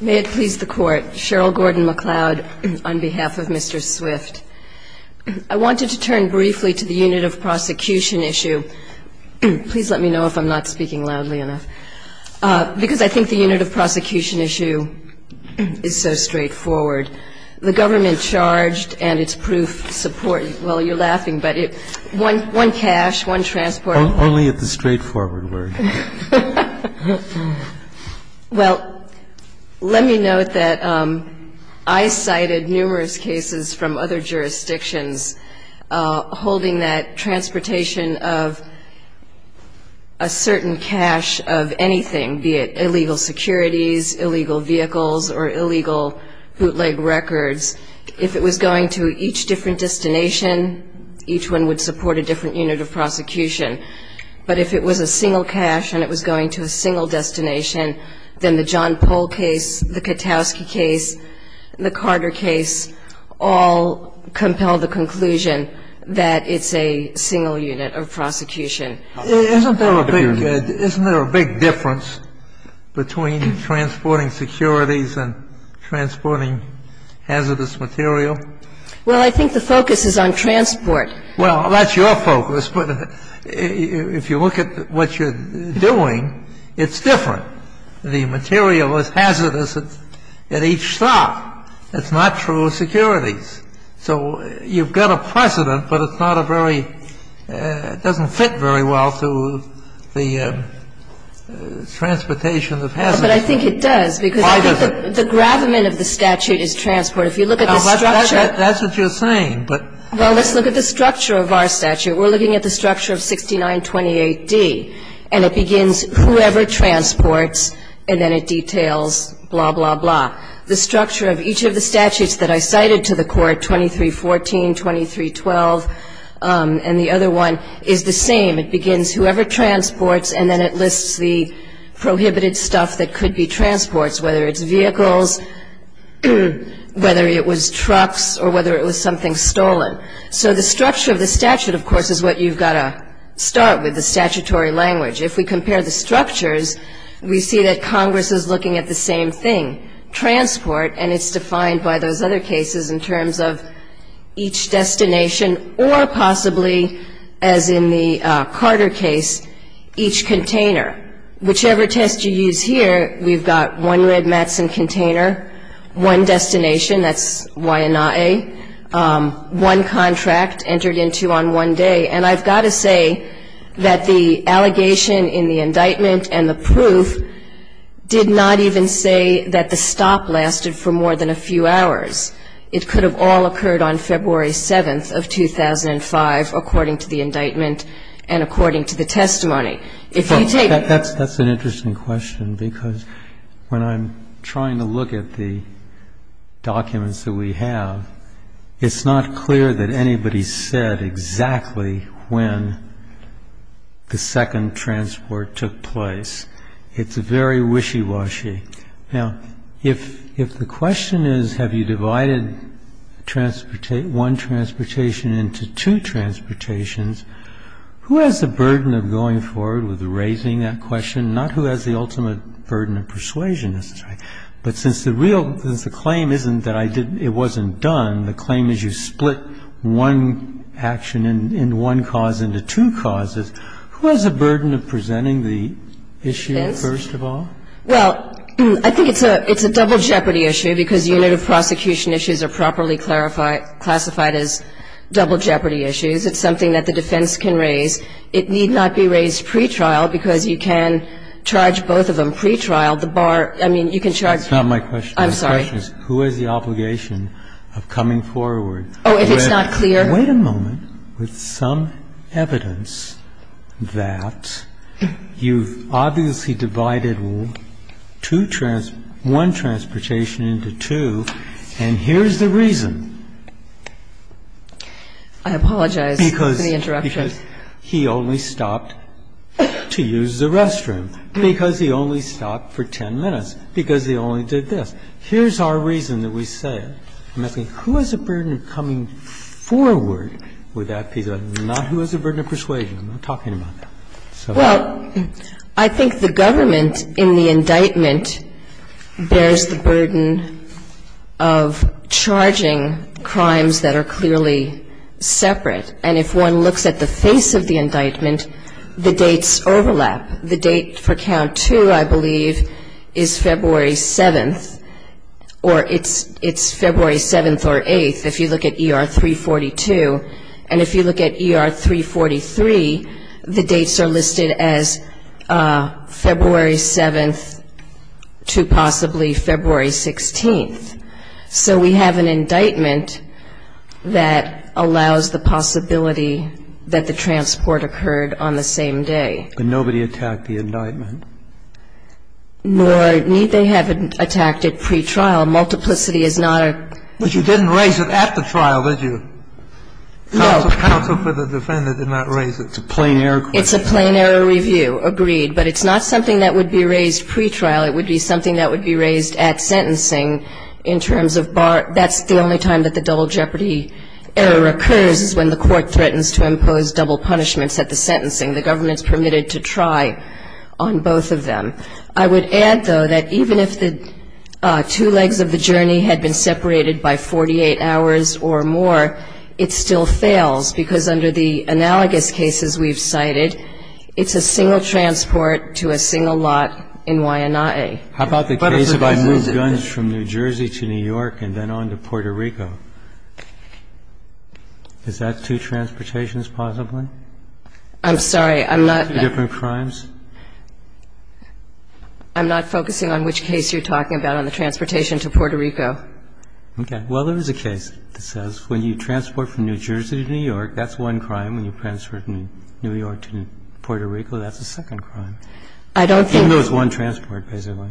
May it please the Court, Cheryl Gordon-McLeod on behalf of Mr. Swift. I wanted to turn briefly to the unit of prosecution issue. Please let me know if I'm not speaking loudly enough, because I think the unit of prosecution issue is so straightforward. The government charged and its proof support, well, you're laughing, but one cash, one transport. Only at the straightforward word. Well, let me note that I cited numerous cases from other jurisdictions holding that transportation of a certain cash of anything, be it illegal securities, illegal vehicles, or illegal bootleg records. If it was going to each different destination, each one would support a different unit of prosecution. But if it was a single cash and it was going to a single destination, then the John Pohl case, the Katowski case, the Carter case all compel the conclusion that it's a single unit of prosecution. Isn't there a big difference between transporting securities and transporting hazardous material? Well, I think the focus is on transport. Well, that's your focus. But if you look at what you're doing, it's different. The material is hazardous at each stop. It's not true securities. So you've got a precedent, but it's not a very – it doesn't fit very well to the transportation of hazardous. But I think it does, because I think the gravamen of the statute is transport. That's what you're saying. Well, let's look at the structure of our statute. We're looking at the structure of 6928D, and it begins whoever transports, and then it details blah, blah, blah. The structure of each of the statutes that I cited to the Court, 2314, 2312, and the other one, is the same. It begins whoever transports, and then it lists the prohibited stuff that could be transports, whether it's vehicles, whether it was trucks, or whether it was something stolen. So the structure of the statute, of course, is what you've got to start with, the statutory language. If we compare the structures, we see that Congress is looking at the same thing, transport, and it's defined by those other cases in terms of each destination or possibly, as in the Carter case, each container. Whichever test you use here, we've got one red Matson container, one destination, that's Wai'anae, one contract entered into on one day. And I've got to say that the allegation in the indictment and the proof did not even say that the stop lasted for more than a few hours. It could have all occurred on February 7th of 2005, according to the indictment and according to the testimony. That's an interesting question, because when I'm trying to look at the documents that we have, it's not clear that anybody said exactly when the second transport took place. It's very wishy-washy. Now, if the question is, have you divided one transportation into two transportations, who has the burden of going forward with raising that question? Not who has the ultimate burden of persuasion. But since the claim isn't that it wasn't done, the claim is you split one action in one cause into two causes, who has the burden of presenting the issue first of all? Well, I think it's a double jeopardy issue, because unit of prosecution issues are properly classified as double jeopardy issues. It's something that the defense can raise. It need not be raised pretrial, because you can charge both of them pretrial. The bar, I mean, you can charge. That's not my question. I'm sorry. The question is who has the obligation of coming forward? Oh, if it's not clear. Wait a moment. With some evidence that you've obviously divided one transportation into two, and here's the reason. I apologize for the interruption. Because he only stopped to use the restroom. Because he only stopped for 10 minutes. Because he only did this. Here's our reason that we say, who has the burden of coming forward with that piece of evidence? Not who has the burden of persuasion. I'm not talking about that. Well, I think the government in the indictment bears the burden of charging crimes that are clearly separate. And if one looks at the face of the indictment, the dates overlap. The date for count two, I believe, is February 7th, or it's February 7th or 8th, if you look at ER 342. And if you look at ER 343, the dates are listed as February 7th to possibly February 16th. So we have an indictment that allows the possibility that the transport occurred on the same day. But nobody attacked the indictment. Nor need they have attacked it pretrial. Multiplicity is not a ---- But you didn't raise it at the trial, did you? No. Counsel for the defendant did not raise it. It's a plain error question. It's a plain error review. Agreed. But it's not something that would be raised pretrial. It would be something that would be raised at sentencing in terms of bar ---- that's the only time that the double jeopardy error occurs is when the court threatens to impose double punishments at the sentencing. The government's permitted to try on both of them. I would add, though, that even if the two legs of the journey had been separated by 48 hours or more, it still fails because under the analogous cases we've cited, it's a single transport to a single lot in Wai'anae. How about the case of I move guns from New Jersey to New York and then on to Puerto Rico? Is that two transportations possibly? I'm sorry. I'm not ---- Two different crimes? I'm not focusing on which case you're talking about on the transportation to Puerto Rico. Okay. Well, there is a case that says when you transport from New Jersey to New York, that's one crime. When you transfer from New York to Puerto Rico, that's a second crime. I don't think ---- Even though it's one transport, basically.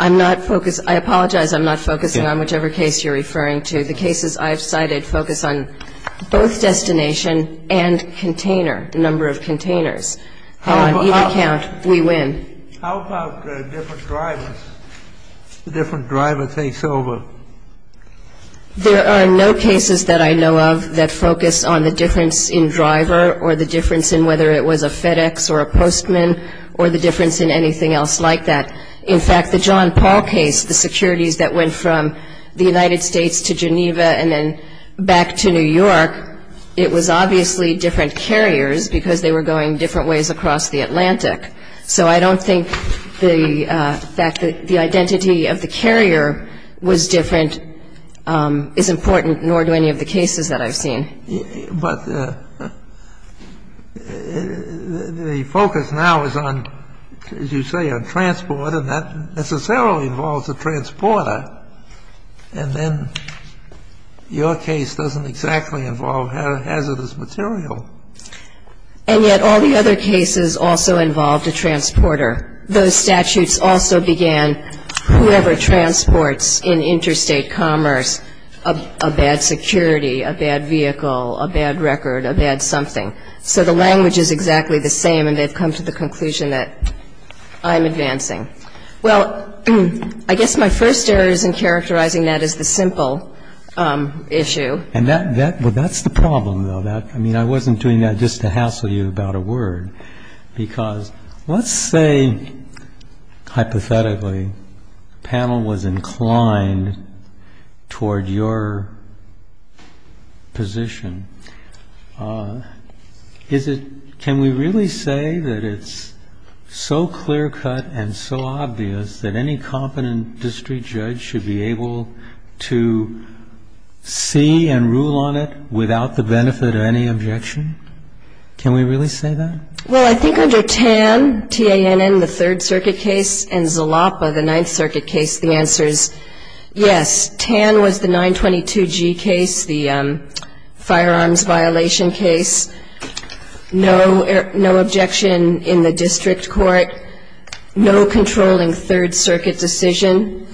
I'm not focused. I apologize. I'm not focusing on whichever case you're referring to. The cases I've cited focus on both destination and container, number of containers. And on either count, we win. How about different drivers, different driver takeover? There are no cases that I know of that focus on the difference in driver or the difference in whether it was a FedEx or a Postman or the difference in anything else like that. In fact, the John Paul case, the securities that went from the United States to Geneva and then back to New York, it was obviously different carriers because they were going in different ways across the Atlantic. So I don't think the fact that the identity of the carrier was different is important, nor do any of the cases that I've seen. But the focus now is on, as you say, on transport, and that necessarily involves a transporter. And then your case doesn't exactly involve hazardous material. And yet all the other cases also involved a transporter. Those statutes also began whoever transports in interstate commerce a bad security, a bad vehicle, a bad record, a bad something. So the language is exactly the same, and they've come to the conclusion that I'm advancing. Well, I guess my first error is in characterizing that as the simple issue. And that's the problem, though. I mean, I wasn't doing that just to hassle you about a word. Because let's say, hypothetically, the panel was inclined toward your position. Can we really say that it's so clear-cut and so obvious that any competent district judge should be able to see and rule on it without the benefit of any objection? Can we really say that? Well, I think under Tan, T-A-N-N, the Third Circuit case, and Zalapa, the Ninth Circuit case, the answer is yes. Tan was the 922G case, the firearms violation case. No objection in the district court. No controlling Third Circuit decision.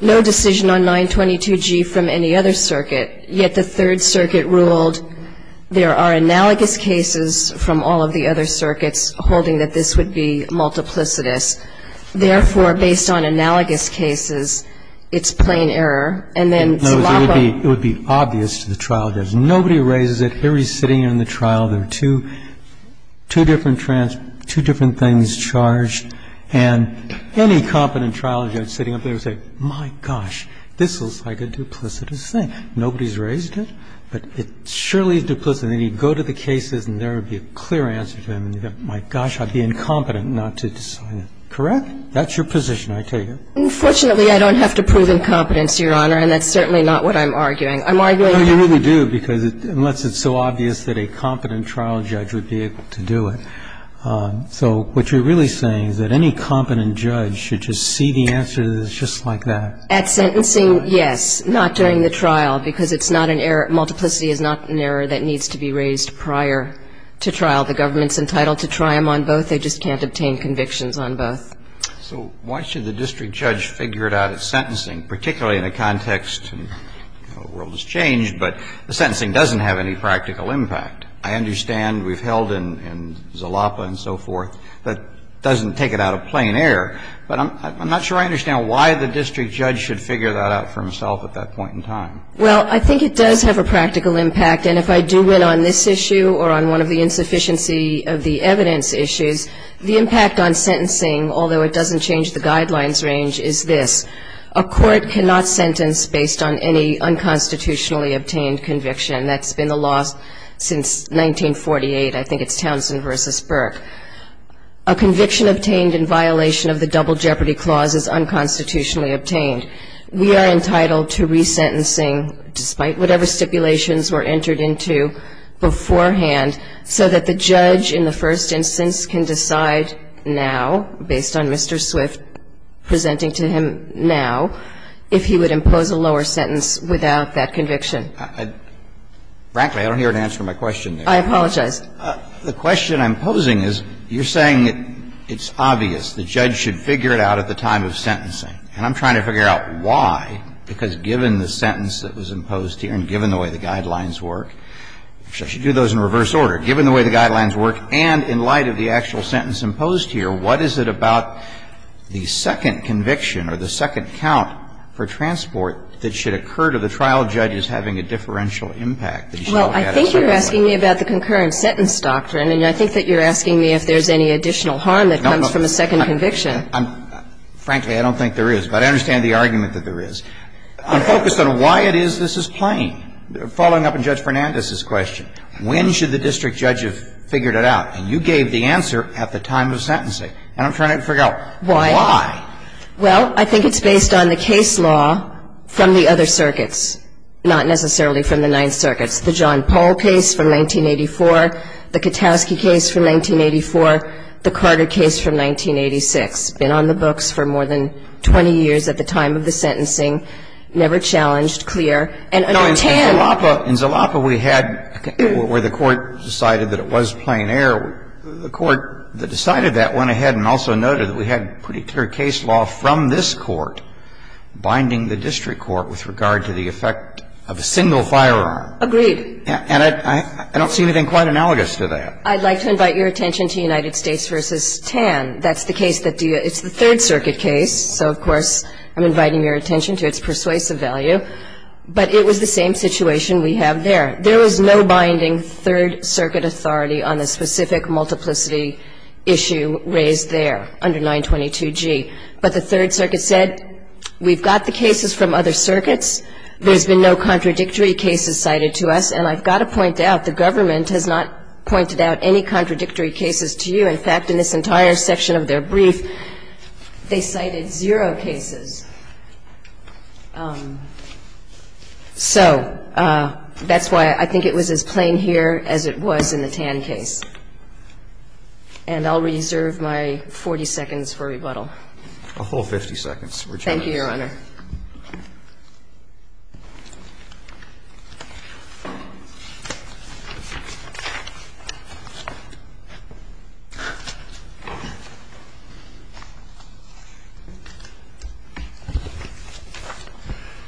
No decision on 922G from any other circuit. Yet the Third Circuit ruled there are analogous cases from all of the other circuits holding that this would be multiplicitous. Therefore, based on analogous cases, it's plain error. And then Zalapa. No, it would be obvious to the trial judge. Nobody raises it. I mean, everybody's sitting in the trial. There are two different things charged. And any competent trial judge sitting up there would say, my gosh, this looks like a duplicitous thing. Nobody's raised it, but it surely is duplicitous. And then you'd go to the cases and there would be a clear answer to them. And you'd go, my gosh, I'd be incompetent not to decide it. Correct? That's your position, I tell you. Unfortunately, I don't have to prove incompetence, Your Honor, and that's certainly not what I'm arguing. I'm arguing that you have to prove it. It's obvious that a competent trial judge would be able to do it. So what you're really saying is that any competent judge should just see the answer that it's just like that. At sentencing, yes. Not during the trial, because it's not an error. Multiplicity is not an error that needs to be raised prior to trial. The government's entitled to try them on both. They just can't obtain convictions on both. So why should the district judge figure it out at sentencing, particularly in a context where the world has changed, but the sentencing doesn't have any practical impact? I understand we've held in Zalapa and so forth. That doesn't take it out of plain air. But I'm not sure I understand why the district judge should figure that out for himself at that point in time. Well, I think it does have a practical impact. And if I do win on this issue or on one of the insufficiency of the evidence issues, the impact on sentencing, although it doesn't change the guidelines range, is this. A court cannot sentence based on any unconstitutionally obtained conviction. That's been the law since 1948. I think it's Townsend v. Burke. A conviction obtained in violation of the Double Jeopardy Clause is unconstitutionally obtained. We are entitled to resentencing despite whatever stipulations were entered into beforehand so that the judge in the first instance can decide now, based on Mr. Swift, presenting to him now, if he would impose a lower sentence without that conviction. Frankly, I don't hear an answer to my question there. I apologize. The question I'm posing is you're saying it's obvious the judge should figure it out at the time of sentencing. And I'm trying to figure out why, because given the sentence that was imposed here and given the way the guidelines work, which I should do those in reverse order, given the way the guidelines work and in light of the actual sentence imposed here, what is it about the second conviction or the second count for transport that should occur to the trial judge as having a differential impact? Well, I think you're asking me about the concurrent sentence doctrine, and I think that you're asking me if there's any additional harm that comes from a second conviction. Frankly, I don't think there is. But I understand the argument that there is. I'm focused on why it is this is plain. Following up on Judge Fernandez's question, when should the district judge have figured it out? And you gave the answer at the time of sentencing. And I'm trying to figure out why. Well, I think it's based on the case law from the other circuits, not necessarily from the Ninth Circuit. The John Paul case from 1984, the Katowski case from 1984, the Carter case from 1986. Been on the books for more than 20 years at the time of the sentencing. Never challenged, clear. And under Tan. In Zalapa, in Zalapa, we had where the court decided that it was plain error. The court that decided that went ahead and also noted that we had pretty clear case law from this court binding the district court with regard to the effect of a single firearm. Agreed. And I don't see anything quite analogous to that. I'd like to invite your attention to United States v. Tan. That's the case that do you – it's the Third Circuit case. So, of course, I'm inviting your attention to its persuasive value. But it was the same situation we have there. There was no binding Third Circuit authority on the specific multiplicity issue raised there under 922G. But the Third Circuit said, we've got the cases from other circuits. There's been no contradictory cases cited to us. And I've got to point out the government has not pointed out any contradictory cases to you. In fact, in this entire section of their brief, they cited zero cases. So that's why I think it was as plain here as it was in the Tan case. And I'll reserve my 40 seconds for rebuttal. A whole 50 seconds. Thank you, Your Honor. Thank you, Your Honor.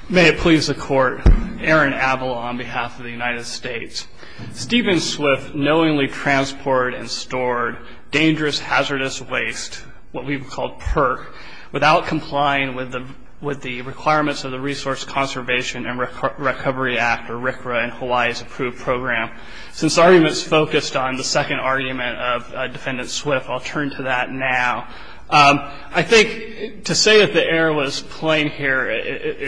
May it please the Court. Aaron Abell on behalf of the United States. Stephen Swift knowingly transported and stored dangerous hazardous waste, what we would call PERC, without complying with the requirements of the Resource Conservation and Recovery Act, or RCRA, in Hawaii's approved program. Since the argument is focused on the second argument of Defendant Swift, I'll turn to that now. I think to say that the error was plain here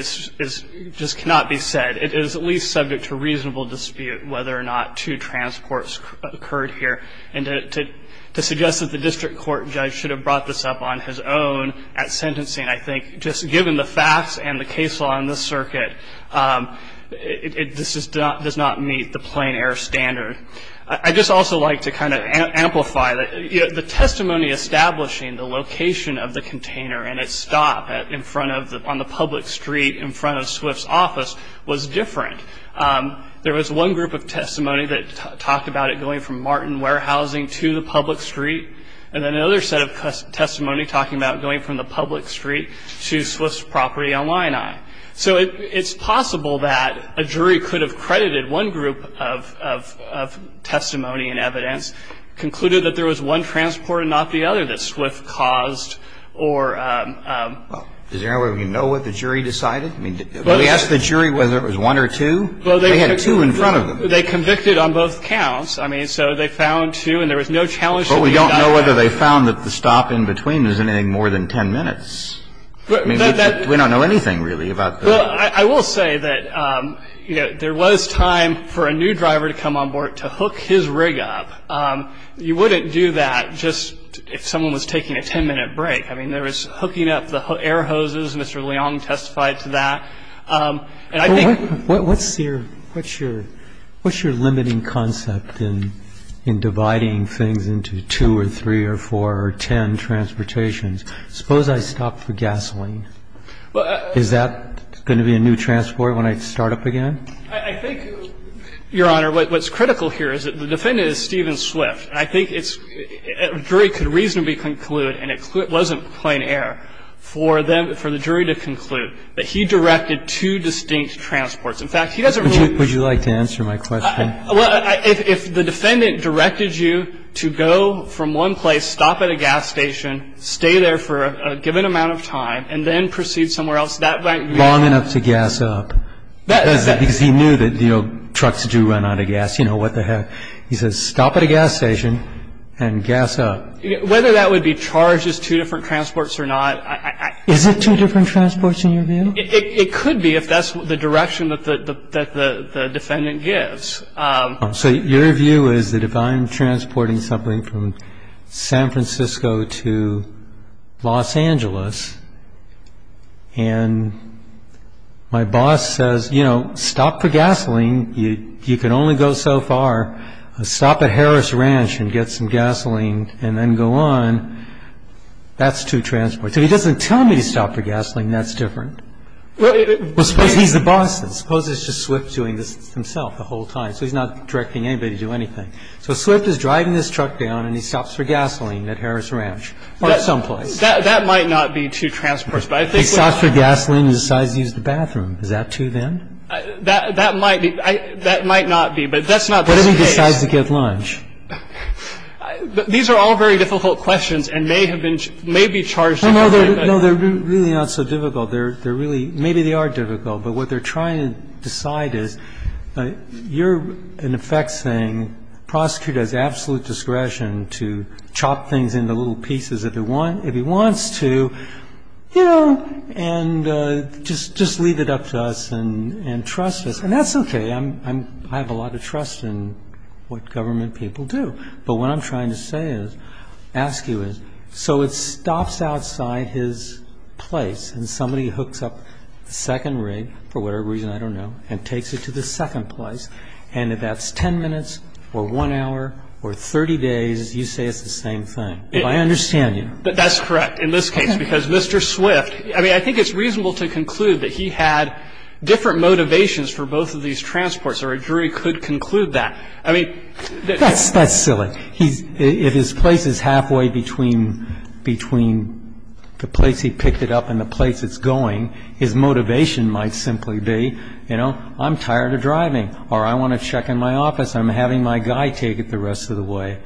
just cannot be said. It is at least subject to reasonable dispute whether or not two transports occurred here. And to suggest that the district court judge should have brought this up on his own at sentencing, I think, just given the facts and the case law in this circuit, this does not meet the plain error standard. I'd just also like to kind of amplify that the testimony establishing the location of the container and its stop on the public street in front of Swift's office was different. There was one group of testimony that talked about it going from Martin Warehousing to the public street. And then another set of testimony talking about going from the public street to Swift's property on Lion Eye. So it's possible that a jury could have credited one group of testimony and evidence, concluded that there was one transport and not the other that Swift caused, or... Well, does anyone know what the jury decided? I mean, did we ask the jury whether it was one or two? They had two in front of them. Well, they convicted on both counts. I mean, so they found two and there was no challenge to... But we don't know whether they found that the stop in between was anything more than 10 minutes. I mean, we don't know anything really about the... Well, I will say that, you know, there was time for a new driver to come on board to hook his rig up. You wouldn't do that just if someone was taking a 10-minute break. I mean, there was hooking up the air hoses. Mr. Leong testified to that. And I think... What's your limiting concept in dividing things into two or three or four or 10 transportations? Suppose I stop for gasoline. Is that going to be a new transport when I start up again? I think, Your Honor, what's critical here is that the defendant is Stephen Swift. And I think a jury could reasonably conclude, and it wasn't plain air for the jury to conclude, that he directed two distinct transports. In fact, he doesn't really... Would you like to answer my question? If the defendant directed you to go from one place, stop at a gas station, stay there for a given amount of time, and then proceed somewhere else, that might be... Long enough to gas up. Because he knew that, you know, trucks do run out of gas. You know, what the heck. He says, stop at a gas station and gas up. Whether that would be charged as two different transports or not... Is it two different transports in your view? It could be if that's the direction that the defendant gives. So your view is that if I'm transporting something from San Francisco to Los Angeles and my boss says, you know, stop for gasoline. You can only go so far. Stop at Harris Ranch and get some gasoline and then go on. That's two transports. If he doesn't tell me to stop for gasoline, that's different. Suppose he's the boss. Suppose it's just Swift doing this himself the whole time. So he's not directing anybody to do anything. So Swift is driving this truck down and he stops for gasoline at Harris Ranch or someplace. That might not be two transports. If he stops for gasoline and decides to use the bathroom, is that two then? That might be. That might not be. But that's not the case. What if he decides to get lunch? These are all very difficult questions and may have been, may be charged differently. No, they're really not so difficult. They're really, maybe they are difficult. But what they're trying to decide is you're, in effect, saying, prosecute at his absolute discretion to chop things into little pieces if he wants to, you know, and just leave it up to us and trust us. And that's okay. I have a lot of trust in what government people do. But what I'm trying to say is, ask you is, so it stops outside his place and somebody hooks up the second rig, for whatever reason, I don't know, and takes it to the second place. And if that's 10 minutes or 1 hour or 30 days, you say it's the same thing. If I understand you. But that's correct in this case, because Mr. Swift, I mean, I think it's reasonable to conclude that he had different motivations for both of these transports, or a jury could conclude that. I mean, that's silly. If his place is halfway between the place he picked it up and the place it's going, his motivation might simply be, you know, I'm tired of driving. Or I want to check in my office. I'm having my guy take it the rest of the way.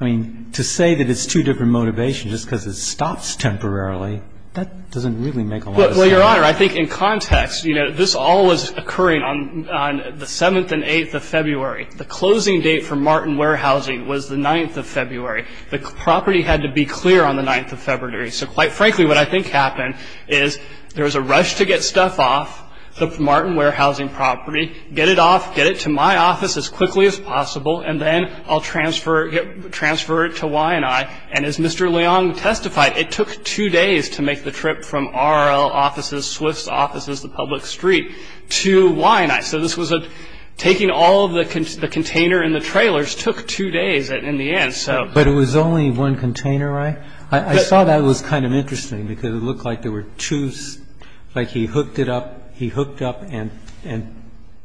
I mean, to say that it's two different motivations just because it stops temporarily, that doesn't really make a lot of sense. Well, Your Honor, I think in context, you know, this all was occurring on the 7th and 8th of February. The closing date for Martin Warehousing was the 9th of February. The property had to be clear on the 9th of February. So quite frankly, what I think happened is there was a rush to get stuff off the Martin Warehousing property, get it off, get it to my office as quickly as possible, and then I'll transfer it to Wyanite. And as Mr. Leong testified, it took two days to make the trip from our offices, Swift's offices, the public street, to Wyanite. So this was a taking all of the container and the trailers took two days in the end. But it was only one container, right? I saw that was kind of interesting because it looked like there were two, like he hooked it up, he hooked up and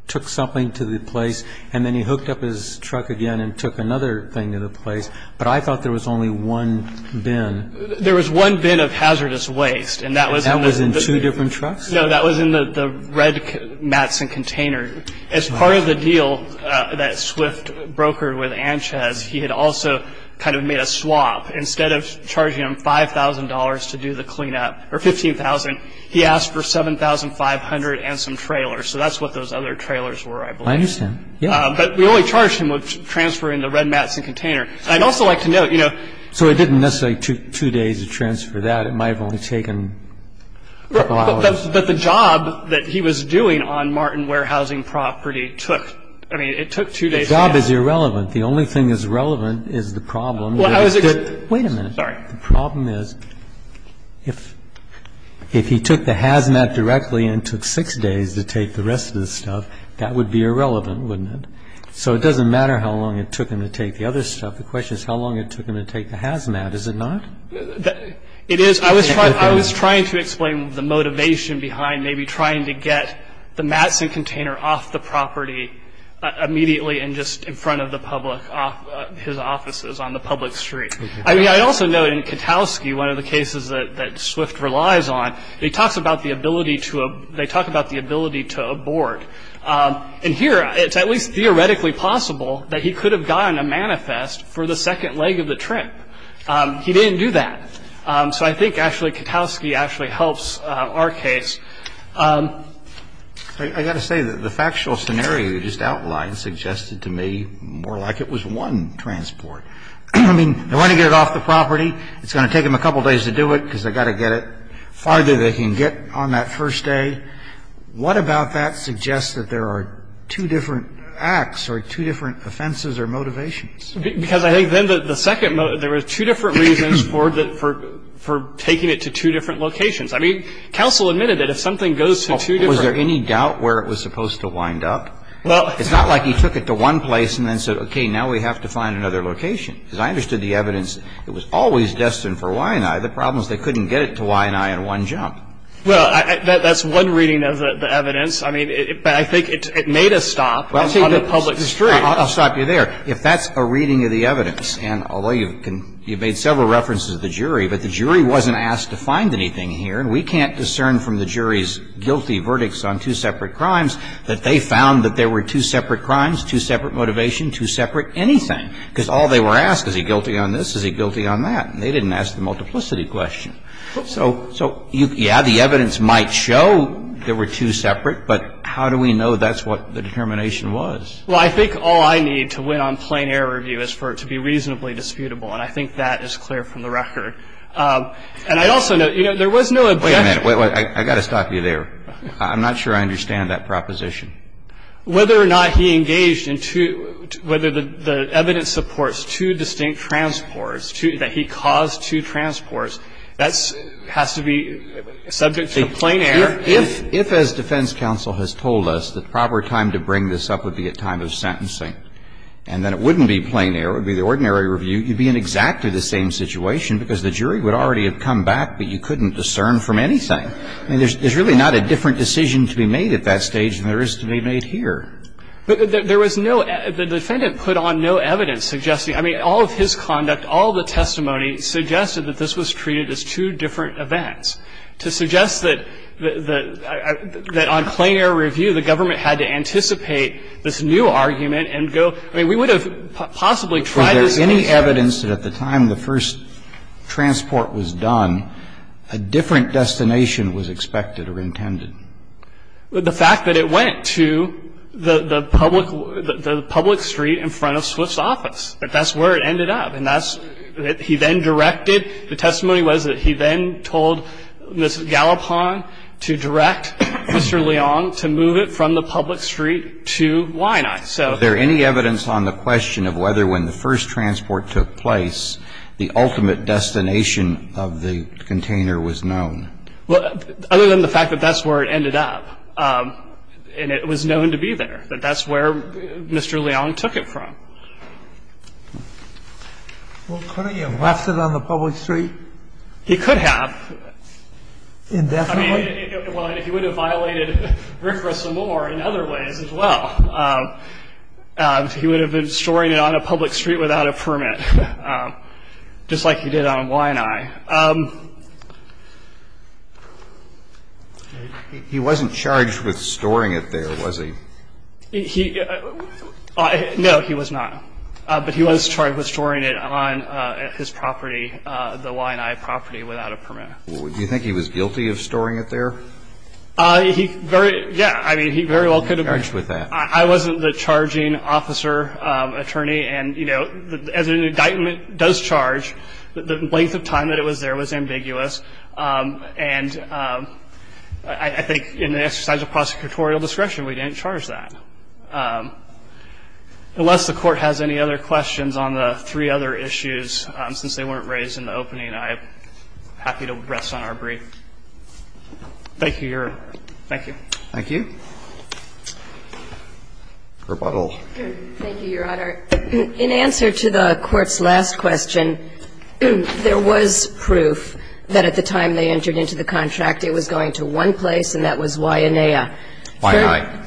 took something to the place, and then he hooked up his truck again and took another thing to the place. But I thought there was only one bin. There was one bin of hazardous waste, and that was in the- That was in two different trucks? No, that was in the red mats and container. As part of the deal that Swift brokered with Anchez, he had also kind of made a swap. Instead of charging him $5,000 to do the clean-up, or $15,000, he asked for $7,500 and some trailers. So that's what those other trailers were, I believe. I understand. But we only charged him with transferring the red mats and container. I'd also like to note- So it didn't necessarily take two days to transfer that. It might have only taken a couple hours. But the job that he was doing on Martin Warehousing property took, I mean, it took two days. The job is irrelevant. The only thing that's relevant is the problem. Well, I was- Wait a minute. Sorry. The problem is if he took the hazmat directly and took six days to take the rest of the stuff, that would be irrelevant, wouldn't it? So it doesn't matter how long it took him to take the other stuff. The question is how long it took him to take the hazmat, is it not? It is. I was trying to explain the motivation behind maybe trying to get the mats and container off the property immediately and just in front of the public, his offices on the public street. I mean, I also note in Katowski, one of the cases that Swift relies on, he talks about the ability to-they talk about the ability to abort. And here it's at least theoretically possible that he could have gotten a manifest for the second leg of the trip. He didn't do that. So I think actually Katowski actually helps our case. I've got to say that the factual scenario you just outlined suggested to me more like it was one transport. I mean, they want to get it off the property. It's going to take them a couple days to do it because they've got to get it as far as they can get on that first day. What about that suggests that there are two different acts or two different offenses or motivations? Because I think then the second-there were two different reasons for taking it to two different locations. I mean, counsel admitted that if something goes to two different- Was there any doubt where it was supposed to wind up? Well- It's not like he took it to one place and then said, okay, now we have to find another location. Because I understood the evidence. It was always destined for Waianae. The problem is they couldn't get it to Waianae in one jump. Well, that's one reading of the evidence. I mean, but I think it made a stop on the public street. I'll stop you there. If that's a reading of the evidence, and although you've made several references to the jury, but the jury wasn't asked to find anything here, and we can't discern from the jury's guilty verdicts on two separate crimes that they found that there were two separate crimes, two separate motivations, two separate anything. Because all they were asked, is he guilty on this? Is he guilty on that? And they didn't ask the multiplicity question. So, yeah, the evidence might show there were two separate, but how do we know that's what the determination was? Well, I think all I need to win on plain error review is for it to be reasonably disputable. And I think that is clear from the record. And I also know, you know, there was no objection. Wait a minute. I've got to stop you there. I'm not sure I understand that proposition. Whether or not he engaged in two, whether the evidence supports two distinct transports, that he caused two transports, that has to be subject to plain error. If, as defense counsel has told us, the proper time to bring this up would be at time of sentencing, and then it wouldn't be plain error. It would be the ordinary review. You'd be in exactly the same situation because the jury would already have come back, but you couldn't discern from anything. I mean, there's really not a different decision to be made at that stage than there is to be made here. But there was no, the defendant put on no evidence suggesting, I mean, all of his conduct, all the testimony suggested that this was treated as two different events. To suggest that on plain error review, the government had to anticipate this new argument and go, I mean, we would have possibly tried this case. Was there any evidence that at the time the first transport was done, a different destination was expected or intended? The fact that it went to the public street in front of Swift's office. That's where it ended up. And that's, he then directed, the testimony was that he then told Ms. Gallipan to direct Mr. Leong to move it from the public street to Winai. Is there any evidence on the question of whether when the first transport took place, the ultimate destination of the container was known? Well, other than the fact that that's where it ended up. And it was known to be there, that that's where Mr. Leong took it from. Well, couldn't he have left it on the public street? He could have. Indefinitely? I mean, he would have violated RCRA some more in other ways as well. He would have been storing it on a public street without a permit, just like he did on Winai. He wasn't charged with storing it there, was he? No, he was not. But he was charged with storing it on his property, the Winai property, without a permit. Do you think he was guilty of storing it there? Yeah, I mean, he very well could have been. I wasn't the charging officer, attorney. And, you know, as an indictment does charge, the length of time that it was there was ambiguous. And I think in the exercise of prosecutorial discretion, we didn't charge that. Unless the Court has any other questions on the three other issues, I'm happy to rest on our brief. Thank you, Your Honor. Thank you. Thank you. Rebuttal. Thank you, Your Honor. In answer to the Court's last question, there was proof that at the time they entered into the contract, it was going to one place, and that was Winai. Winai.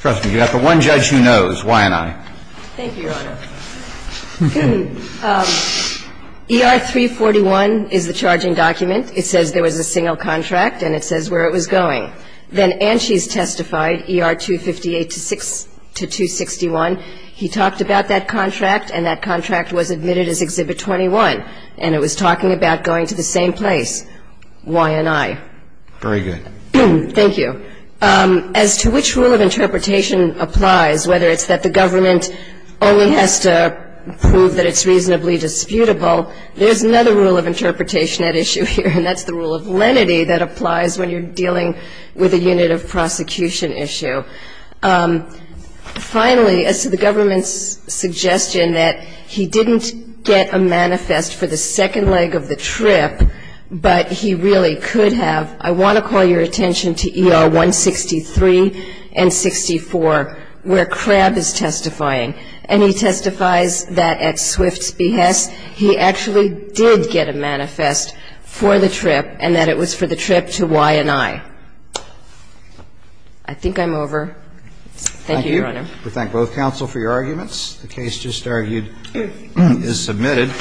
Trust me, you have the one judge who knows, Winai. Thank you, Your Honor. Okay. ER-341 is the charging document. It says there was a single contract, and it says where it was going. Then Anshes testified, ER-258-261. He talked about that contract, and that contract was admitted as Exhibit 21. And it was talking about going to the same place, Winai. Very good. Thank you. As to which rule of interpretation applies, whether it's that the government only has to prove that it's reasonably disputable, there's another rule of interpretation at issue here, and that's the rule of lenity that applies when you're dealing with a unit of prosecution issue. Finally, as to the government's suggestion that he didn't get a manifest for the second leg of the trip, but he really could have, I want to call your attention to ER-163 and 64, where Crabb is testifying. And he testifies that at Swift's behest, he actually did get a manifest for the trip, and that it was for the trip to Winai. I think I'm over. Thank you, Your Honor. Thank you. We thank both counsel for your arguments. The case just argued is submitted.